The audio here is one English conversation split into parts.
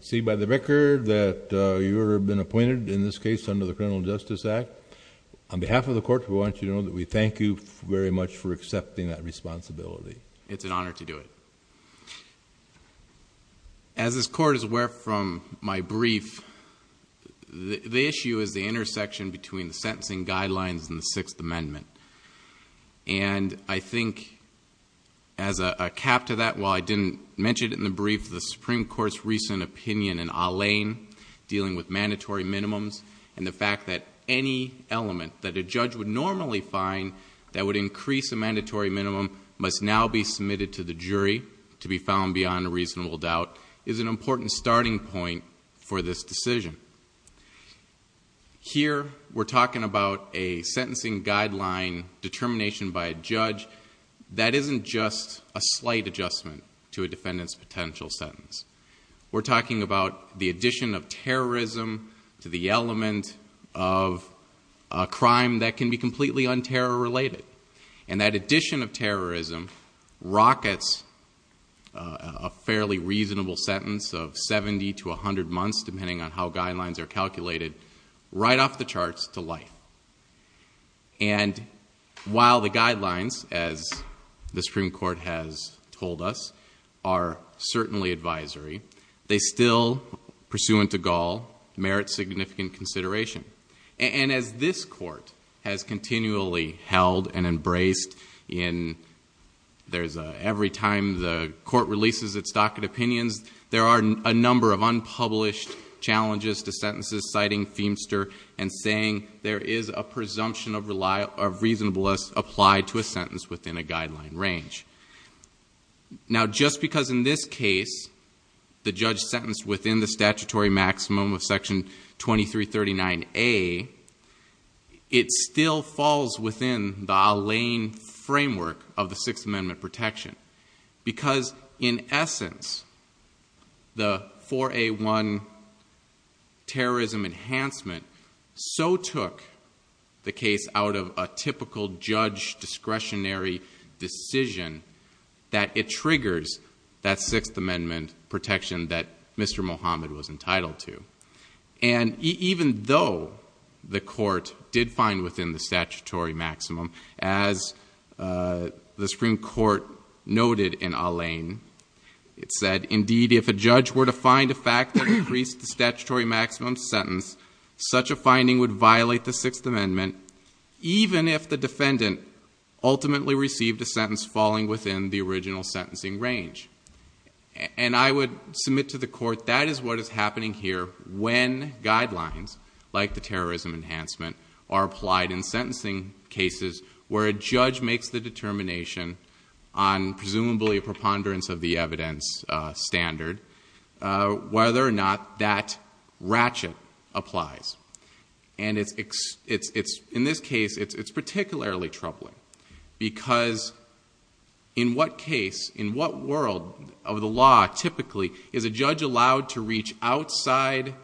See by the record that you've been appointed in this case under the Criminal Justice Act. On behalf of the court, we want you to know that we thank you very much for accepting that responsibility. It's an honor to do it. As this court is aware from my brief, the issue is the intersection between the sentencing guidelines and the Sixth Amendment. And I think as a cap to that, while I didn't mention it in the brief, the Supreme Court's recent opinion in Allain dealing with mandatory minimums and the fact that any element that a judge would normally find that would increase a mandatory minimum must now be submitted to the jury to be found beyond a reasonable doubt is an important starting point for this decision. Here we're talking about a sentencing guideline determination by a judge that isn't just a slight adjustment to a defendant's potential sentence. We're talking about the addition of terrorism to the element of a crime that can be completely un-terror related. And that addition of terrorism rockets a fairly reasonable sentence of 70 to 100 months, depending on how guidelines are calculated, right off the charts to life. And while the guidelines, as the Supreme Court has told us, are certainly advisory, they still, pursuant to Gall, merit significant consideration. And as this court has continually held and embraced in, there's a, every time the challenges to sentences citing Feimster and saying there is a presumption of reliable, of reasonableness applied to a sentence within a guideline range. Now just because in this case, the judge sentenced within the statutory maximum of section 2339A, it still falls within the Allain framework of the Sixth Amendment. Terrorism enhancement, so took the case out of a typical judge discretionary decision that it triggers that Sixth Amendment protection that Mr. Mohammed was entitled to. And even though the court did find within the statutory maximum, as the Supreme Court noted in Allain, it said, indeed if a judge were to find a fact that increased the statutory maximum sentence, such a finding would violate the Sixth Amendment, even if the defendant ultimately received a sentence falling within the original sentencing range. And I would submit to the court, that is what is happening here when guidelines like the terrorism enhancement are applied in sentencing cases where a judge makes the determination on presumably a preponderance of the evidence standard, whether or not that ratchet applies. And in this case, it's particularly troubling, because in what case, in what world of the law typically is a judge allowed to reach outside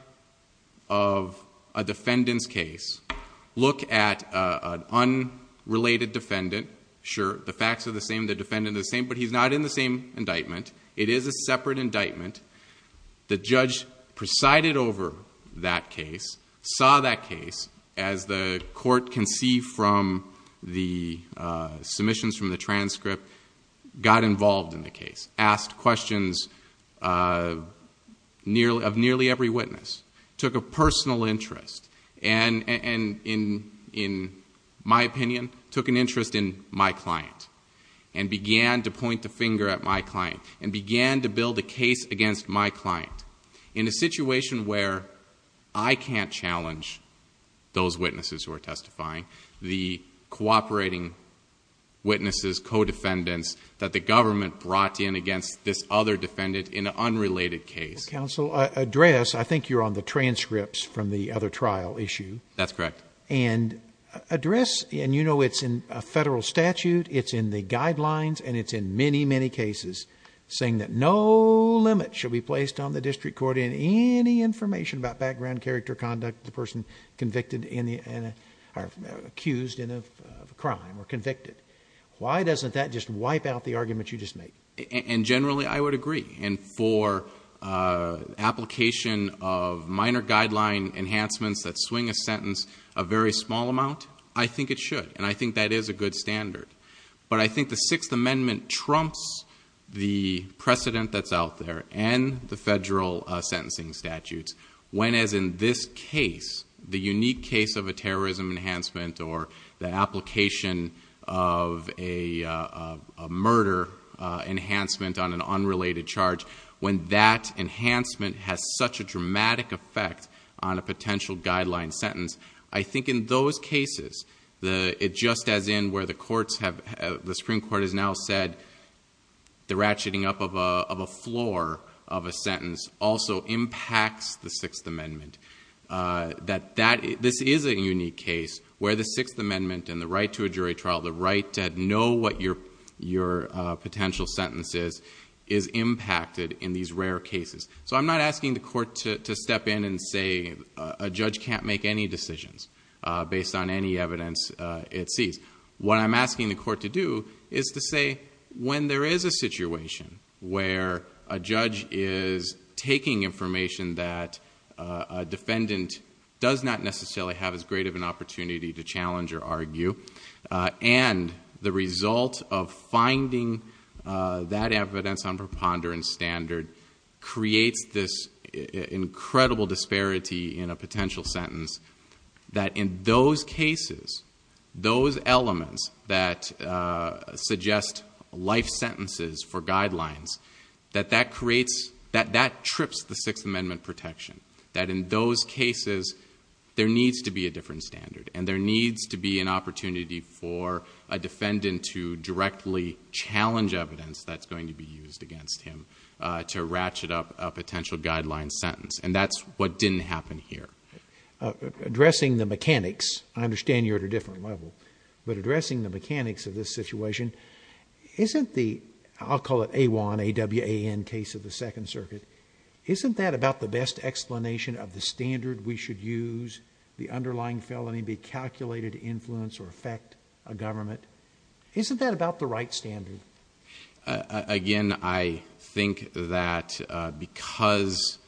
of a defendant's case, look at an unrelated defendant. Sure, the facts are the same, the defendant is the same, but he's not in the same indictment. It is a separate indictment. The judge presided over that case, saw that case, as the court can see from the submissions from the transcript, got involved in the case, asked questions of nearly every witness, took a personal interest, and in my opinion, took an interest in my client, and began to point the finger at my client, and began to build a case against my client. In a situation where I can't challenge those witnesses who are testifying, the cooperating witnesses, co-defendants that the government brought in against this other defendant in an unrelated case. Counsel, address, I think you're on the transcripts from the other trial issue. That's correct. And address, and you know it's in a federal statute, it's in the guidelines, and it's in many, many cases, saying that no limit should be placed on the district court in any information about background, character, conduct of the person convicted in the, or accused of a crime, or convicted. Why doesn't that just wipe out the argument you just made? And generally, I would agree, and for application of minor guideline enhancements that swing a sentence a very small amount, I think it should, and I think that is a good standard. But I think the Sixth Amendment trumps the precedent that's out there, and the federal sentencing statutes, when as in this case, the unique case of a murder enhancement on an unrelated charge, when that enhancement has such a dramatic effect on a potential guideline sentence, I think in those cases, it just as in where the courts have, the Supreme Court has now said, the ratcheting up of a floor of a sentence also impacts the Sixth Amendment. That that, this is a unique case where the Sixth Amendment and the right to a jury your potential sentences is impacted in these rare cases. So I'm not asking the court to step in and say, a judge can't make any decisions based on any evidence it sees. What I'm asking the court to do is to say, when there is a situation where a judge is taking information that a defendant does not necessarily have as an opportunity to challenge or argue, and the result of finding that evidence on preponderance standard creates this incredible disparity in a potential sentence, that in those cases, those elements that suggest life sentences for guidelines, that that creates, that that trips the Sixth Amendment protection. That in those cases, there needs to be a different standard, and there needs to be an opportunity for a defendant to directly challenge evidence that's going to be used against him to ratchet up a potential guideline sentence. And that's what didn't happen here. Addressing the mechanics, I understand you're at a different level, but addressing the mechanics of this situation, isn't the, I'll call it AWAN, A-W-A-N, case of the Second Circuit, isn't that about the best explanation of the standard we should use, the underlying felony be calculated to influence or affect a government? Isn't that about the right standard? Again, I think that because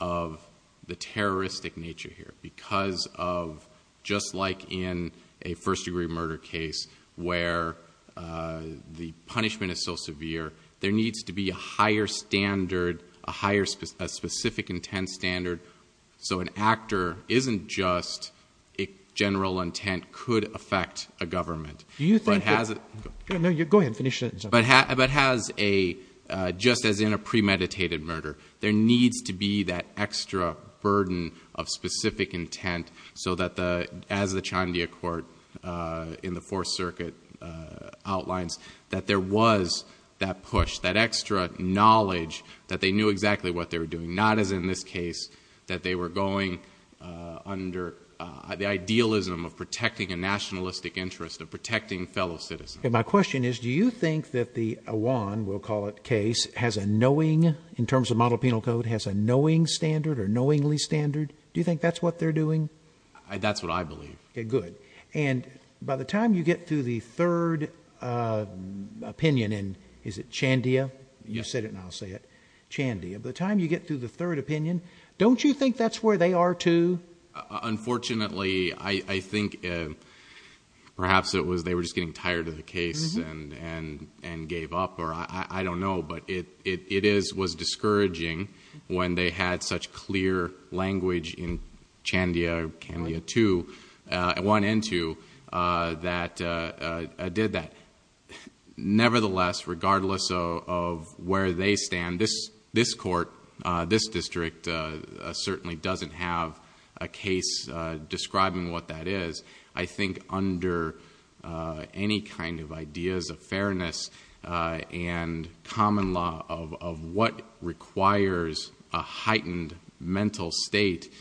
of the terroristic nature here, because of, just like in a first-degree murder case where the punishment is so severe, there needs to be a higher standard, a higher, a specific intent standard, so an actor isn't just a general intent could affect a government, but has a, but has a, just as in a premeditated murder, there needs to be that extra burden of specific intent so that the, as the Chandia Court in the Fourth Circuit outlines, that there was that push, that extra knowledge that they knew exactly what they were doing, not as in this case, that they were going under the idealism of protecting a nationalistic interest, of protecting fellow citizens. Okay, my question is, do you think that the AWAN, we'll call it, case has a knowing, in terms of model penal code, has a knowing standard or knowingly standard? Do you think that's what they're doing? That's what I believe. Okay, good. And by the time you get through the third opinion in, is it Chandia, you said it and I'll say it, Chandia, by the time you get through the third opinion, don't you think that's where they are too? Unfortunately, I think perhaps it was they were just getting tired of the case and gave up, or I don't know, but it is, was discouraging when they had such clear language in Chandia, Candia 2, 1 and 2, that did that. Nevertheless, regardless of where they stand, this court, this district, certainly doesn't have a case describing what that is. I think under any kind of ideas of fairness and common law of what requires a heightened mental state,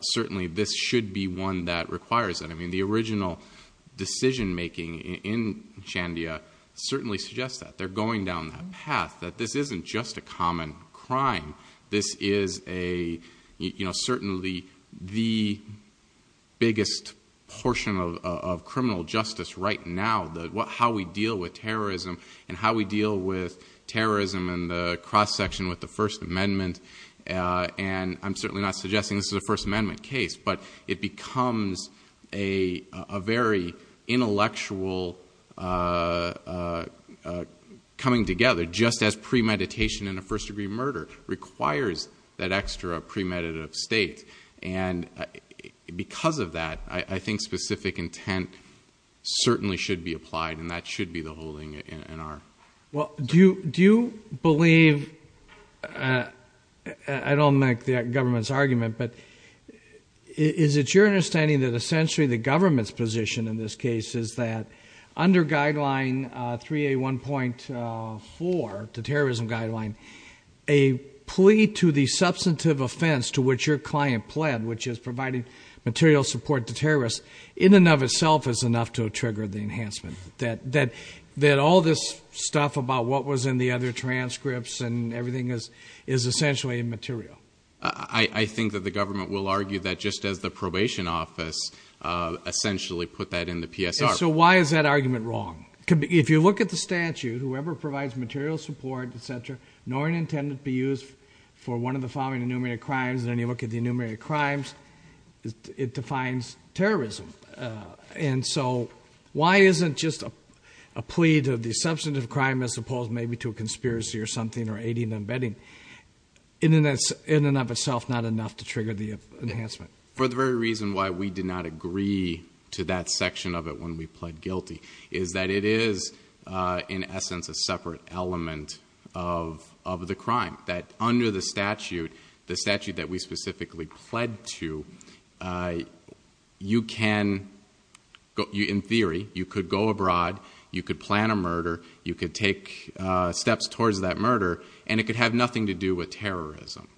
certainly this should be one that requires it. The original decision-making in Chandia certainly suggests that. They're going down that path, that this isn't just a common crime. This is certainly the biggest portion of criminal justice right now, how we deal with terrorism and how we deal with terrorism and the cross-section with the First Amendment. I'm certainly not suggesting this is a First Amendment case, but it becomes a very intellectual coming together, just as premeditation in a first-degree murder requires that extra premeditative state. Because of that, I think specific intent certainly should be applied, and that should be the holding in our... Do you believe... I don't like the government's argument, but is it your understanding that essentially the government's position in this case is that under Guideline 3A1.4, the terrorism guideline, a plea to the substantive offense to which your client pled, which is providing material support to terrorists, in and of itself is enough to trigger the enhancement? That all this stuff about what was in the other transcripts and everything is essentially immaterial? I think that the government will argue that just as the probation office essentially put that in the PSR. So why is that argument wrong? If you look at the statute, whoever provides material support, et cetera, nor is it intended to be used for one of the following enumerated crimes, and then you look at the enumerated crimes, it defines terrorism. And so why isn't just a plea to the substantive crime as opposed maybe to a conspiracy or something or aiding and abetting, in and of itself not enough to trigger the enhancement? For the very reason why we did not agree to that section of it when we pled guilty, is that it is in essence a separate element of the crime. That under the statute, the statute that we specifically pled to, you can, in theory, you could go abroad, you could plan a murder, you could take steps towards that murder, and it could have nothing to do with terrorism.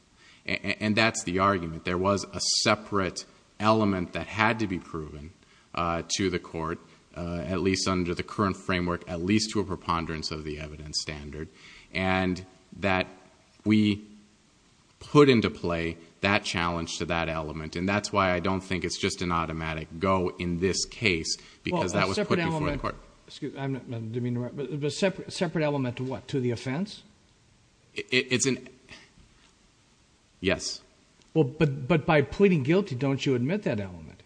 And that's the argument. There was a separate element that had to be proven to the court, at least under the current framework, at least to a preponderance of the evidence standard, and that we put into play that challenge to that element. And that's why I don't think it's just an automatic go in this case, because that was put before the court. Well, a separate element, excuse me, I didn't mean to interrupt, but a separate element to what, to the offense? It's an, yes. But by pleading guilty, don't you admit that element?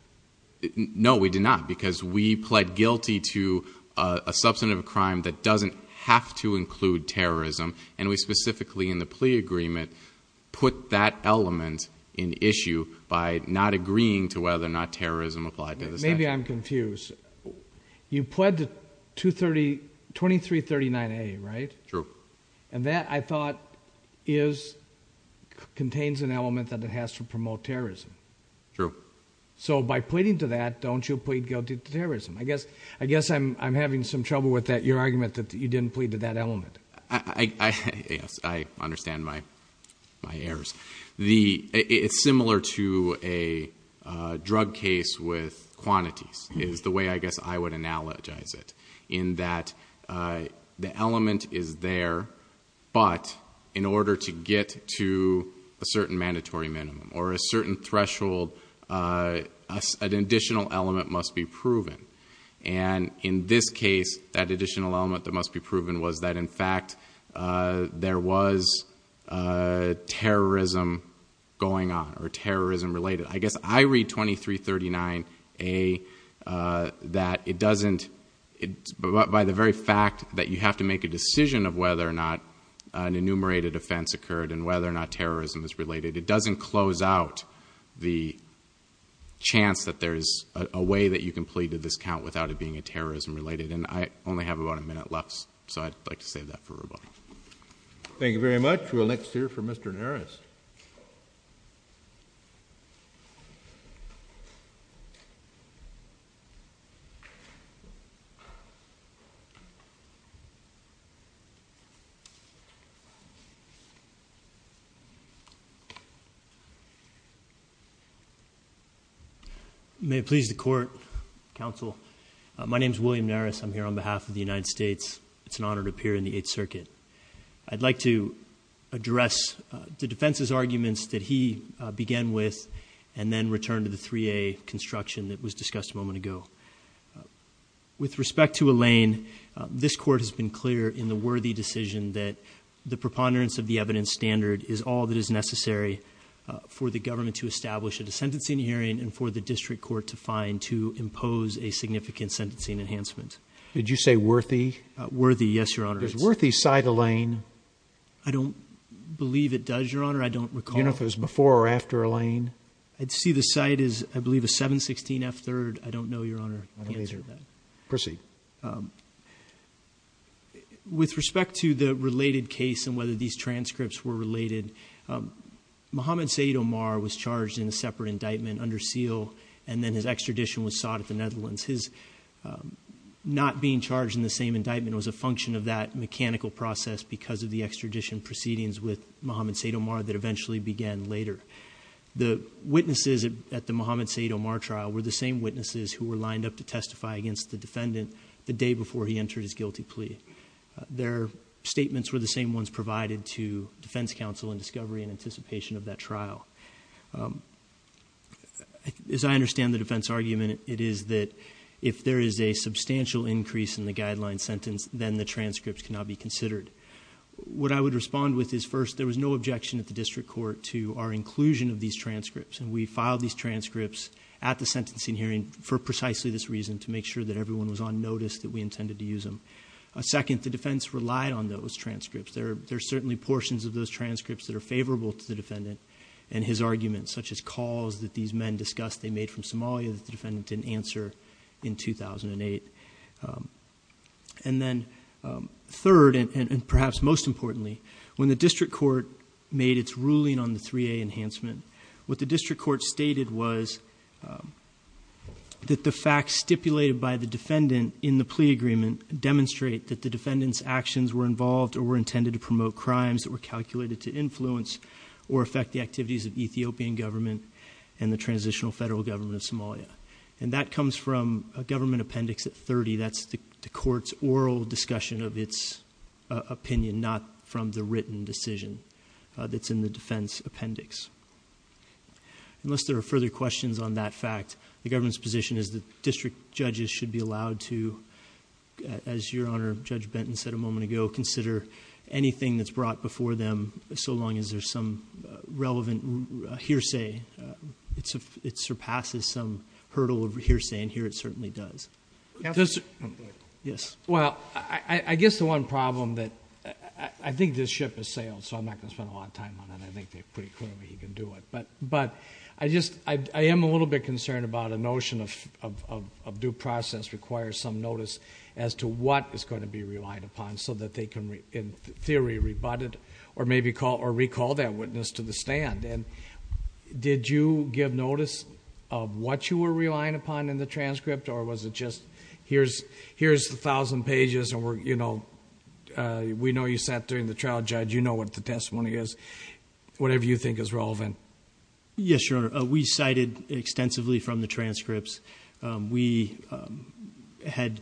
No, we do not, because we pled guilty to a substantive crime that doesn't have to include terrorism, and we specifically, in the plea agreement, put that element in issue by not agreeing to whether or not terrorism applied to the statute. Maybe I'm confused. You pled to 2339A, right? True. And that, I thought, is, contains an element that it has to promote terrorism. True. So by pleading to that, don't you plead guilty to terrorism? I guess I'm having some trouble with that, your argument that you didn't plead to that element. Yes, I understand my errors. It's similar to a drug case with quantities, is the way I guess I would analogize it, in that the element is there, but in order to get to a certain mandatory minimum or a certain threshold, an additional element must be proven. And in this case, that additional element that must be proven was that, in fact, there was terrorism going on or terrorism related. I guess I read 2339A that it doesn't, by the very fact that you have to make a decision of whether or not an enumerated offense occurred and whether or not terrorism is related, it doesn't close out the chance that there's a way that you can plead to this count without it being a terrorism related. And I only have about a minute left, so I'd like to save that for Rubo. Thank you very much. We'll next hear from Mr. Naras. Mr. Naras. May it please the Court, Counsel. My name is William Naras. I'm here on behalf of the United States. It's an honor to appear in the Eighth Circuit. I'd like to address the defense's arguments that he began with and then returned to the 3A construction that was discussed a moment ago. With respect to Elaine, this Court has been clear in the worthy decision that the preponderance of the evidence standard is all that is necessary for the government to establish a sentencing hearing and for the district court to find to impose a significant sentencing enhancement. Did you say worthy? Worthy, yes, Your Honor. There's a worthy side, Elaine. I don't believe it does, Your Honor. I don't recall. I don't know if it was before or after, Elaine. I'd see the side as, I believe, a 716F3rd. I don't know, Your Honor, the answer to that. Proceed. With respect to the related case and whether these transcripts were related, Mohammed Said Omar was charged in a separate indictment under seal and then his extradition was sought at the Netherlands. His not being charged in the same indictment was a function of that mechanical process because of the extradition proceedings with Mohammed Said Omar that eventually began later. The witnesses at the Mohammed Said Omar trial were the same witnesses who were lined up to testify against the defendant the day before he entered his guilty plea. Their statements were the same ones provided to defense counsel in discovery and anticipation of that trial. As I understand the defense argument, it is that if there is a substantial increase in the guideline sentence, then the transcripts cannot be considered. What I would respond with is first, there was no objection at the district court to our inclusion of these transcripts. And we filed these transcripts at the sentencing hearing for precisely this reason, to make sure that everyone was on notice that we intended to use them. Second, the defense relied on those transcripts. There are certainly portions of those transcripts that are favorable to the defendant and his arguments, such as calls that these men discussed they made from Somalia that the defendant didn't answer in 2008. And then third, and perhaps most importantly, when the district court made its ruling on the 3A enhancement, what the district court stated was that the facts stipulated by the defendant in the plea agreement demonstrate that the defendant's actions were involved or were intended to promote crimes that were calculated to influence or affect the activities of Ethiopian government and the transitional federal government of Somalia. And that comes from a government appendix at 30, that's the court's oral discussion of its opinion, not from the written decision that's in the defense appendix. Unless there are further questions on that fact, the government's position is that district judges should be allowed to, as your honor, Judge Benton said a moment ago, consider anything that's brought before them, so long as there's some relevant hearsay, it surpasses some hurdle of hearsay, and here it certainly does. Yes. Well, I guess the one problem that, I think this ship has sailed, so I'm not going to spend a lot of time on it, I think that pretty clearly he can do it. But I am a little bit concerned about a notion of due process requires some notice as to what is going to be relied upon so that they can, in theory, rebut it or maybe recall that witness to the stand. And did you give notice of what you were relying upon in the transcript or was it just, here's 1,000 pages and we know you sat during the trial, judge, you know what the testimony is, whatever you think is relevant. Yes, your honor. We cited extensively from the transcripts. We had,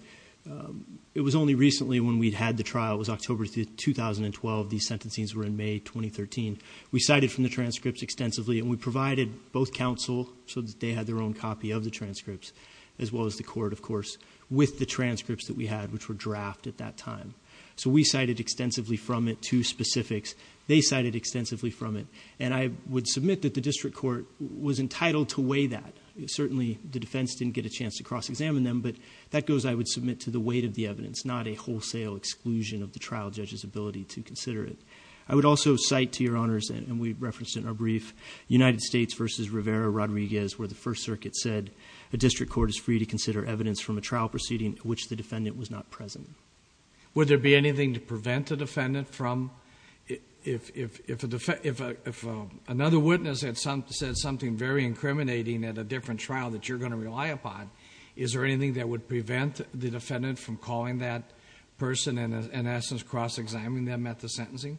it was only recently when we'd had the trial, it was October 2012, the sentencing's were in May 2013, we cited from the transcripts extensively and we provided both counsel, so that they had their own copy of the transcripts, as well as the court, of course, with the transcripts that we had, which were draft at that time. So we cited extensively from it, two specifics. They cited extensively from it, and I would submit that the district court was entitled to weigh that. Certainly, the defense didn't get a chance to cross-examine them, but that goes, I would submit to the weight of the evidence, not a wholesale exclusion of the trial judge's ability to consider it. I would also cite to your honors, and we referenced it in our brief, United States versus Rivera Rodriguez, where the first circuit said, a district court is free to consider evidence from a trial proceeding which the defendant was not present. Would there be anything to prevent the defendant from, if another witness had said something very incriminating at a different trial that you're going to rely upon, is there anything that would prevent the defendant from calling that person and in essence, cross-examining them at the sentencing?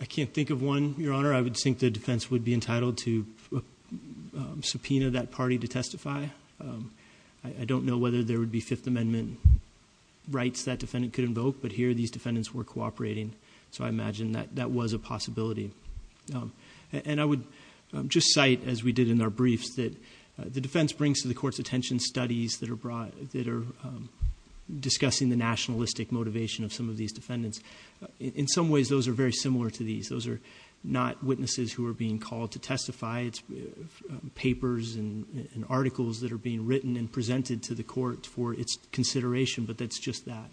I can't think of one, your honor. I would think the defense would be entitled to subpoena that party to testify. I don't know whether there would be Fifth Amendment rights that defendant could invoke, but here these defendants were cooperating. So I imagine that that was a possibility. And I would just cite, as we did in our briefs, that the defense brings to the court's attention studies that are brought, that are discussing the nationalistic motivation of some of these defendants. In some ways, those are very similar to these. Those are not witnesses who are being called to testify. It's papers and articles that are being written and presented to the court for its consideration, but that's just that.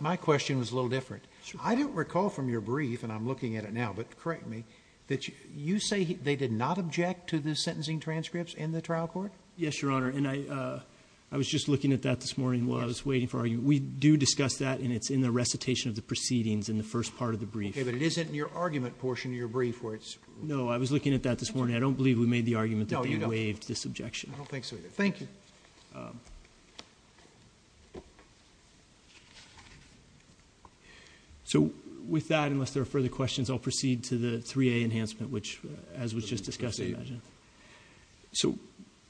My question was a little different. I don't recall from your brief, and I'm looking at it now, but correct me, that you say they did not object to the sentencing transcripts in the trial court? Yes, your honor, and I was just looking at that this morning while I was waiting for our, we do discuss that and it's in the recitation of the proceedings in the first part of the brief. Okay, but it isn't in your argument portion of your brief where it's- No, I was looking at that this morning. I don't believe we made the argument that they waived this objection. I don't think so either. Thank you. So with that, unless there are further questions, I'll proceed to the 3A enhancement, which, as was just discussed, I imagine. So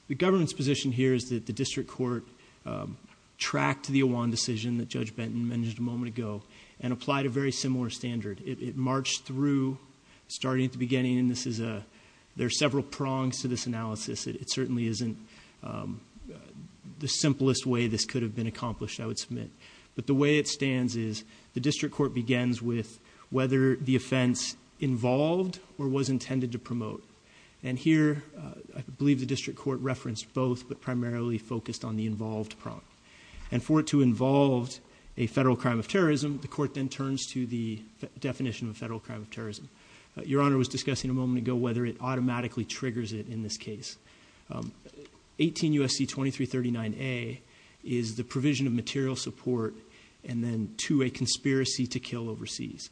the government's position here is that the district court tracked the Awan decision that Judge Benton mentioned a moment ago and applied a very similar standard. It marched through, starting at the beginning, and there are several prongs to this analysis. It certainly isn't the simplest way this could have been accomplished, I would submit. But the way it stands is the district court begins with whether the offense involved or was intended to promote. And here, I believe the district court referenced both, but primarily focused on the involved prong. And for it to involve a federal crime of terrorism, the court then turns to the definition of federal crime of terrorism. Your Honor was discussing a moment ago whether it automatically triggers it in this case. 18 U.S.C. 2339A is the provision of material support. And then to a conspiracy to kill overseas.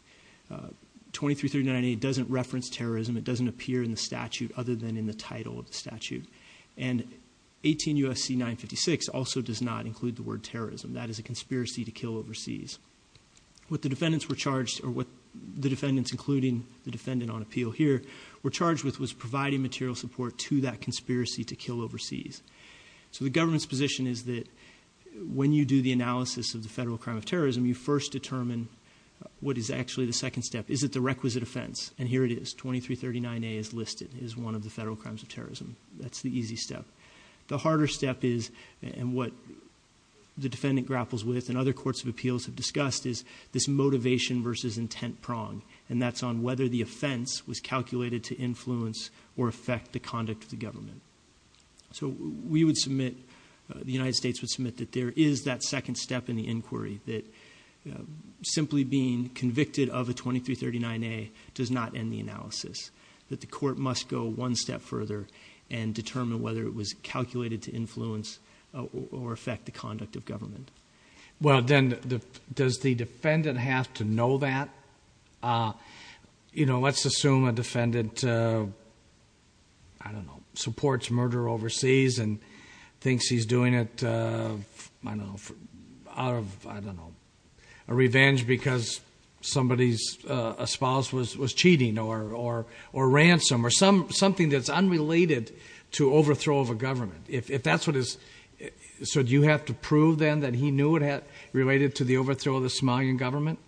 2339A doesn't reference terrorism. It doesn't appear in the statute other than in the title of the statute. And 18 U.S.C. 956 also does not include the word terrorism. That is a conspiracy to kill overseas. What the defendants were charged, or what the defendants, including the defendant on appeal here, were charged with was providing material support to that conspiracy to kill overseas. So the government's position is that when you do the analysis of the federal crime of terrorism, you first determine what is actually the second step. Is it the requisite offense? And here it is, 2339A is listed as one of the federal crimes of terrorism. That's the easy step. The harder step is, and what the defendant grapples with and other courts of appeals have discussed, is this motivation versus intent prong. And that's on whether the offense was calculated to influence or affect the conduct of the government. So we would submit, the United States would submit, that there is that second step in the inquiry. That simply being convicted of a 2339A does not end the analysis. That the court must go one step further and determine whether it was calculated to influence or affect the conduct of government. Well then, does the defendant have to know that? Let's assume a defendant, I don't know, supports murder overseas and thinks he's doing it out of, I don't know, a revenge because somebody's spouse was cheating or ransom or something that's unrelated to overthrow of a government. If that's what is, so do you have to prove then that he knew it had related to the overthrow of the Somalian government?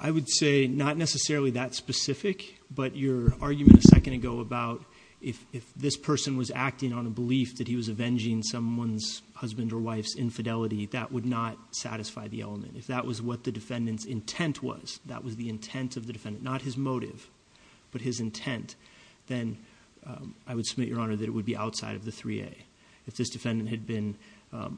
I would say not necessarily that specific, but your argument a second ago about if this person was acting on a belief that he was avenging someone's husband or wife's infidelity, that would not satisfy the element. If that was what the defendant's intent was, that was the intent of the defendant, not his motive, but his intent. Then I would submit, Your Honor, that it would be outside of the 3A. If this defendant had been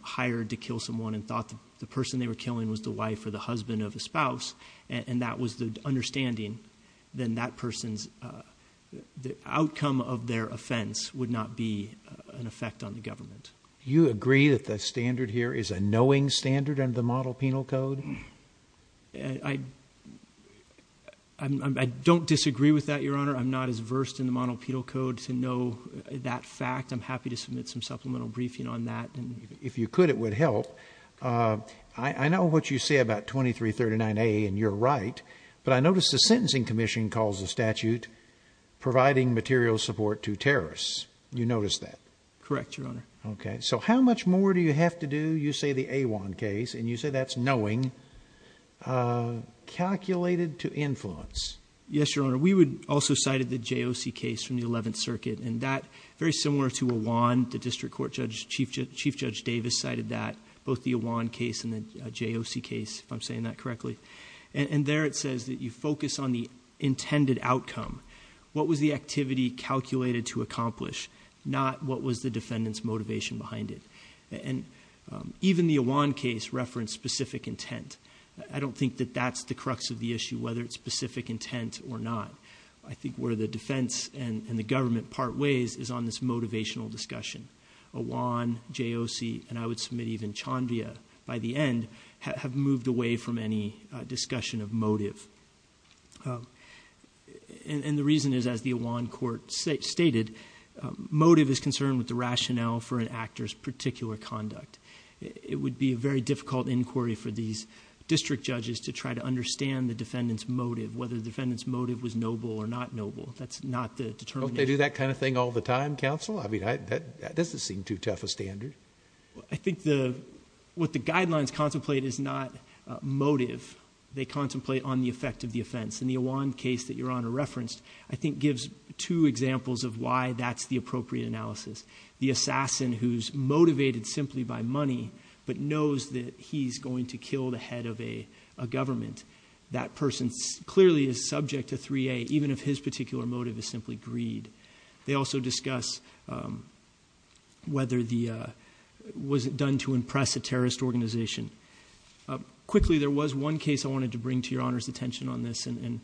hired to kill someone and thought the person they were killing was the wife or the husband of the spouse, and that was the understanding, then that person's, the outcome of their offense would not be an effect on the government. You agree that the standard here is a knowing standard under the model penal code? I don't disagree with that, Your Honor. I'm not as versed in the model penal code to know that fact. I'm happy to submit some supplemental briefing on that. If you could, it would help. I know what you say about 2339A, and you're right. But I notice the Sentencing Commission calls the statute providing material support to terrorists. You notice that? Correct, Your Honor. Okay, so how much more do you have to do, you say the Awan case, and you say that's knowing, calculated to influence? Yes, Your Honor. We also cited the JOC case from the 11th Circuit, and that, very similar to Awan, the District Court Chief Judge Davis cited that, both the Awan case and the JOC case, if I'm saying that correctly. And there it says that you focus on the intended outcome. What was the activity calculated to accomplish, not what was the defendant's motivation behind it? And even the Awan case referenced specific intent. I don't think that that's the crux of the issue, whether it's specific intent or not. I think where the defense and the government part ways is on this motivational discussion. Awan, JOC, and I would submit even Chambia, by the end, have moved away from any discussion of motive. And the reason is, as the Awan court stated, motive is concerned with the rationale for an actor's particular conduct. It would be a very difficult inquiry for these district judges to try to understand the defendant's motive, whether the defendant's motive was noble or not noble. That's not the determination. Don't they do that kind of thing all the time, counsel? I mean, that doesn't seem too tough a standard. I think what the guidelines contemplate is not motive. They contemplate on the effect of the offense. In the Awan case that your honor referenced, I think gives two examples of why that's the appropriate analysis. The assassin who's motivated simply by money, but knows that he's going to kill the head of a government. That person clearly is subject to 3A, even if his particular motive is simply greed. They also discuss whether the, was it done to impress a terrorist organization. Quickly, there was one case I wanted to bring to your honor's attention on this, and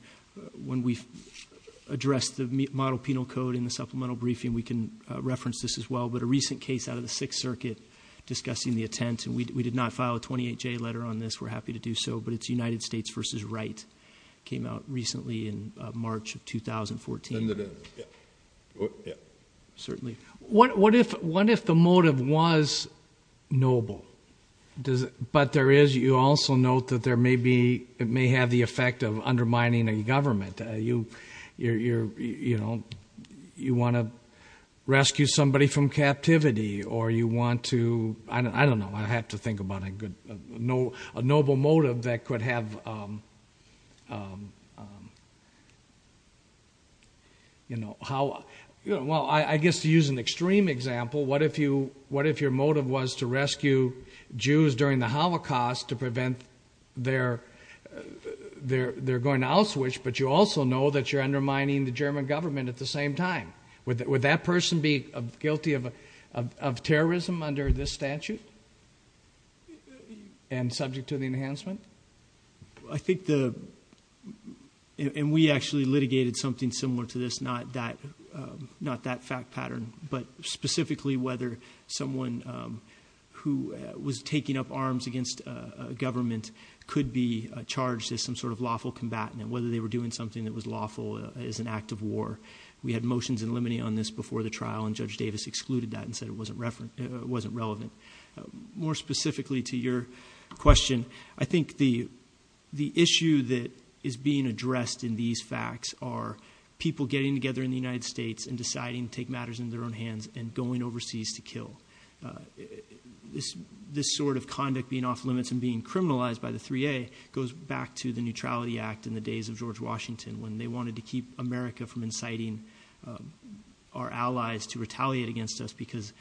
when we address the model penal code in the supplemental briefing, we can reference this as well. But a recent case out of the Sixth Circuit discussing the attempt, and we did not file a 28-J letter on this. We're happy to do so, but it's United States versus Wright. Came out recently in March of 2014. Yeah, yeah. Certainly. What if the motive was noble? But there is, you also note that there may be, it may have the effect of undermining a government. You want to rescue somebody from captivity, or you want to, I don't know, I have to think about a good, a noble motive that could have how, well, I guess to use an extreme example, what if your motive was to rescue Jews during the Holocaust to prevent their going to Auschwitz, but you also know that you're undermining the German government at the same time. Would that person be guilty of terrorism under this statute? And subject to the enhancement? I think the, and we actually litigated something similar to this, not that fact pattern. But specifically whether someone who was taking up arms against government could be charged as some sort of lawful combatant, whether they were doing something that was lawful as an act of war. We had motions in limine on this before the trial, and Judge Davis excluded that and said it wasn't relevant. More specifically to your question, I think the issue that is being addressed in these facts are people getting together in the United States and deciding to take matters into their own hands and going overseas to kill. This sort of conduct being off limits and being criminalized by the 3A goes back to the Neutrality Act in the days of George Washington, when they wanted to keep America from inciting our allies to retaliate against us because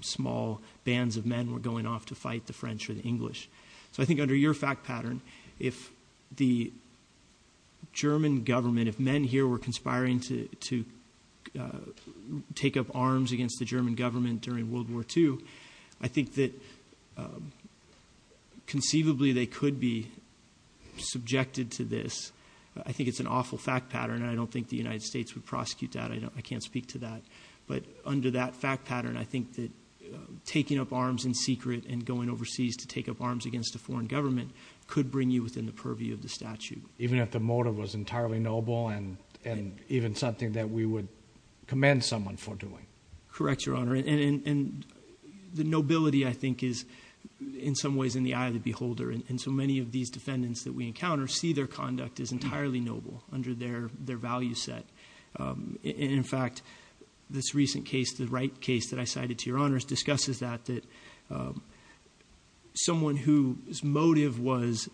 small bands of men were going off to fight the French or the English. So I think under your fact pattern, if the German government, if men here were conspiring to take up arms against the German government during World War II, I think that conceivably they could be subjected to this. I think it's an awful fact pattern, and I don't think the United States would prosecute that, I can't speak to that. But under that fact pattern, I think that taking up arms in secret and going overseas to take up arms against a foreign government could bring you within the purview of the statute. Even if the motive was entirely noble and even something that we would commend someone for doing. Correct, Your Honor, and the nobility, I think, is in some ways in the eye of the beholder. And so many of these defendants that we encounter see their conduct as entirely noble under their value set. And in fact, this recent case, the right case that I cited to your honors, discusses that, that someone whose motive was,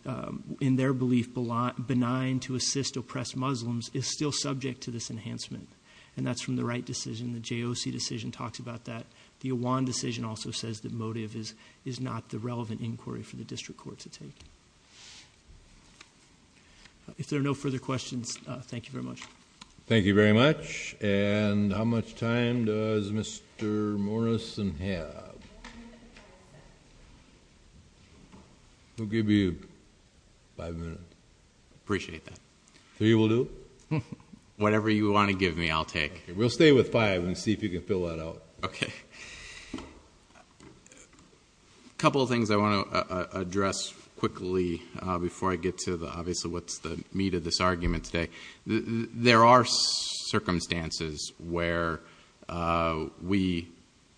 in their belief, benign to assist oppressed Muslims, is still subject to this enhancement. And that's from the right decision, the JOC decision talks about that. The Iwan decision also says that motive is not the relevant inquiry for the district court to take. If there are no further questions, thank you very much. Thank you very much. And how much time does Mr. Morrison have? We'll give you five minutes. Appreciate that. Three will do? Whatever you want to give me, I'll take. We'll stay with five and see if you can fill that out. Okay. A couple of things I want to address quickly before I get to the obvious of what's the meat of this argument today. There are circumstances where we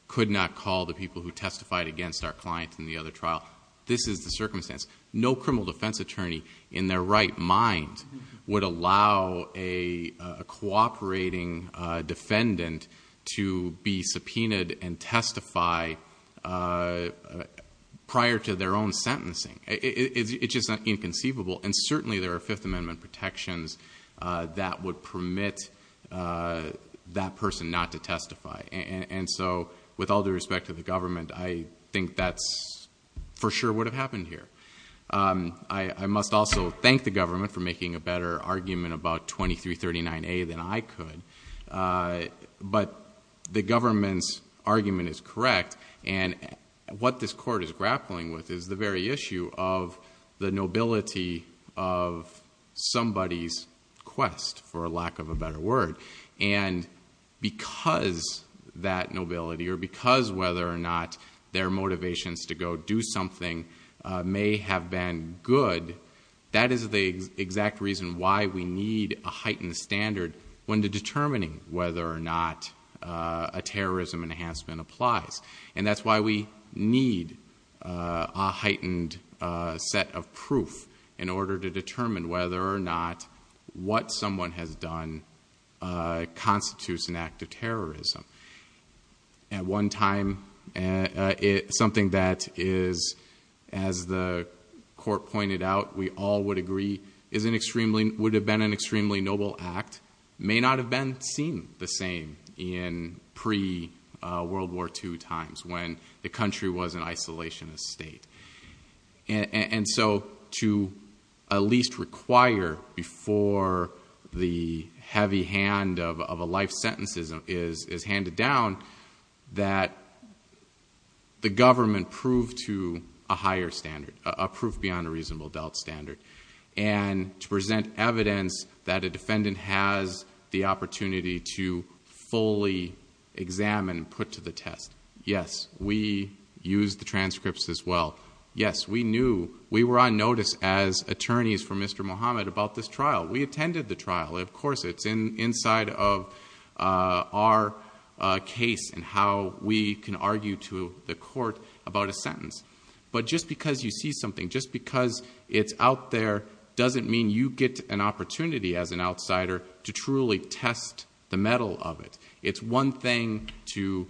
could not call the people who testified against our client in the other trial. This is the circumstance. No criminal defense attorney, in their right mind, would allow a cooperating defendant to be subpoenaed and testify prior to their own sentencing. It's just inconceivable. And certainly there are Fifth Amendment protections that would permit that person not to testify. And so, with all due respect to the government, I think that's for sure would have happened here. I must also thank the government for making a better argument about 2339A than I could. But the government's argument is correct. And what this court is grappling with is the very issue of the nobility of somebody's quest, for lack of a better word. And because that nobility, or because whether or not they have been good, that is the exact reason why we need a heightened standard when determining whether or not a terrorism enhancement applies. And that's why we need a heightened set of proof in order to determine whether or not what someone has done constitutes an act of terrorism. At one time, something that is, as the court pointed out, we all would agree would have been an extremely noble act, may not have been seen the same in pre-World War II times, when the country was an isolationist state. And so, to at least require before the heavy hand of a life sentence is handed down, that the government prove to a higher standard. A proof beyond a reasonable doubt standard. And to present evidence that a defendant has the opportunity to fully examine and put to the test. Yes, we used the transcripts as well. Yes, we knew, we were on notice as attorneys for Mr. Muhammad about this trial. We attended the trial. Of course, it's inside of our case and how we can argue to the court about a sentence. But just because you see something, just because it's out there, doesn't mean you get an opportunity as an outsider to truly test the metal of it. It's one thing to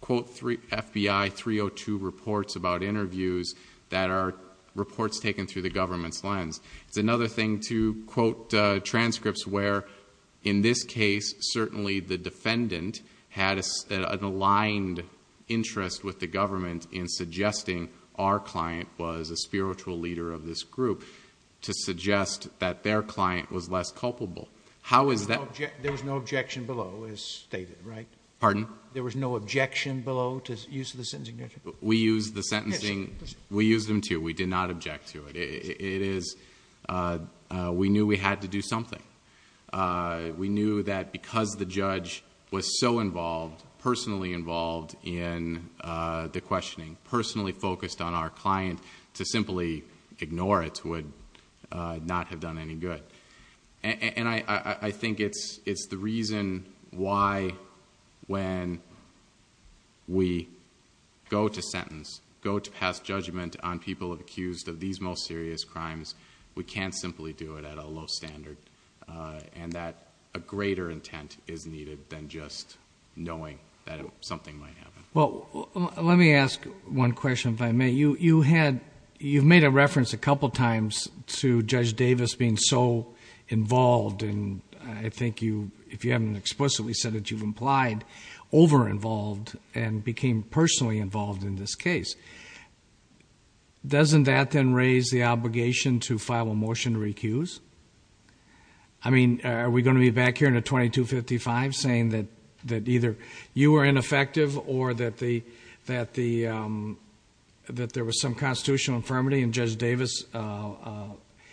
quote FBI 302 reports about interviews that are reports taken through the government's lens. It's another thing to quote transcripts where, in this case, certainly the defendant had an aligned interest with the government in suggesting our client was a spiritual leader of this group. To suggest that their client was less culpable. How is that- There was no objection below, as stated, right? Pardon? There was no objection below to use of the sentencing? We used the sentencing, we used them too. We did not object to it. It is, we knew we had to do something. We knew that because the judge was so involved, personally involved in the questioning, personally focused on our client, to simply ignore it would not have done any good. And I think it's the reason why when we go to sentence, go to pass judgment on people accused of these most serious crimes, we can't simply do it at a low standard. And that a greater intent is needed than just knowing that something might happen. Well, let me ask one question, if I may. You've made a reference a couple times to Judge Davis being so involved. And I think you, if you haven't explicitly said it, you've implied over-involved and became personally involved in this case. Doesn't that then raise the obligation to file a motion to recuse? I mean, are we going to be back here in a 2255 saying that either you were ineffective or that there was some constitutional infirmity in Judge Davis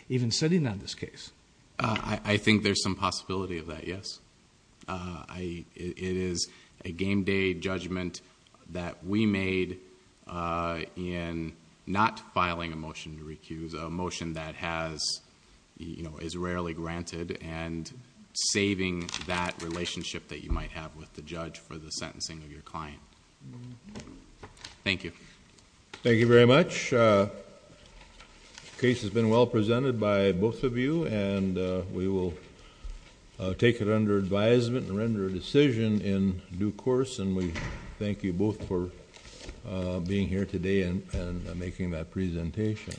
even sitting on this case? I think there's some possibility of that, yes. It is a game day judgment that we made in not filing a motion to recuse. A motion that is rarely granted and saving that relationship that you might have with the judge for the sentencing of your client. Thank you. Thank you very much. The case has been well presented by both of you and we will take it under advisement and render a decision in due course. And we thank you both for being here today and making that presentation.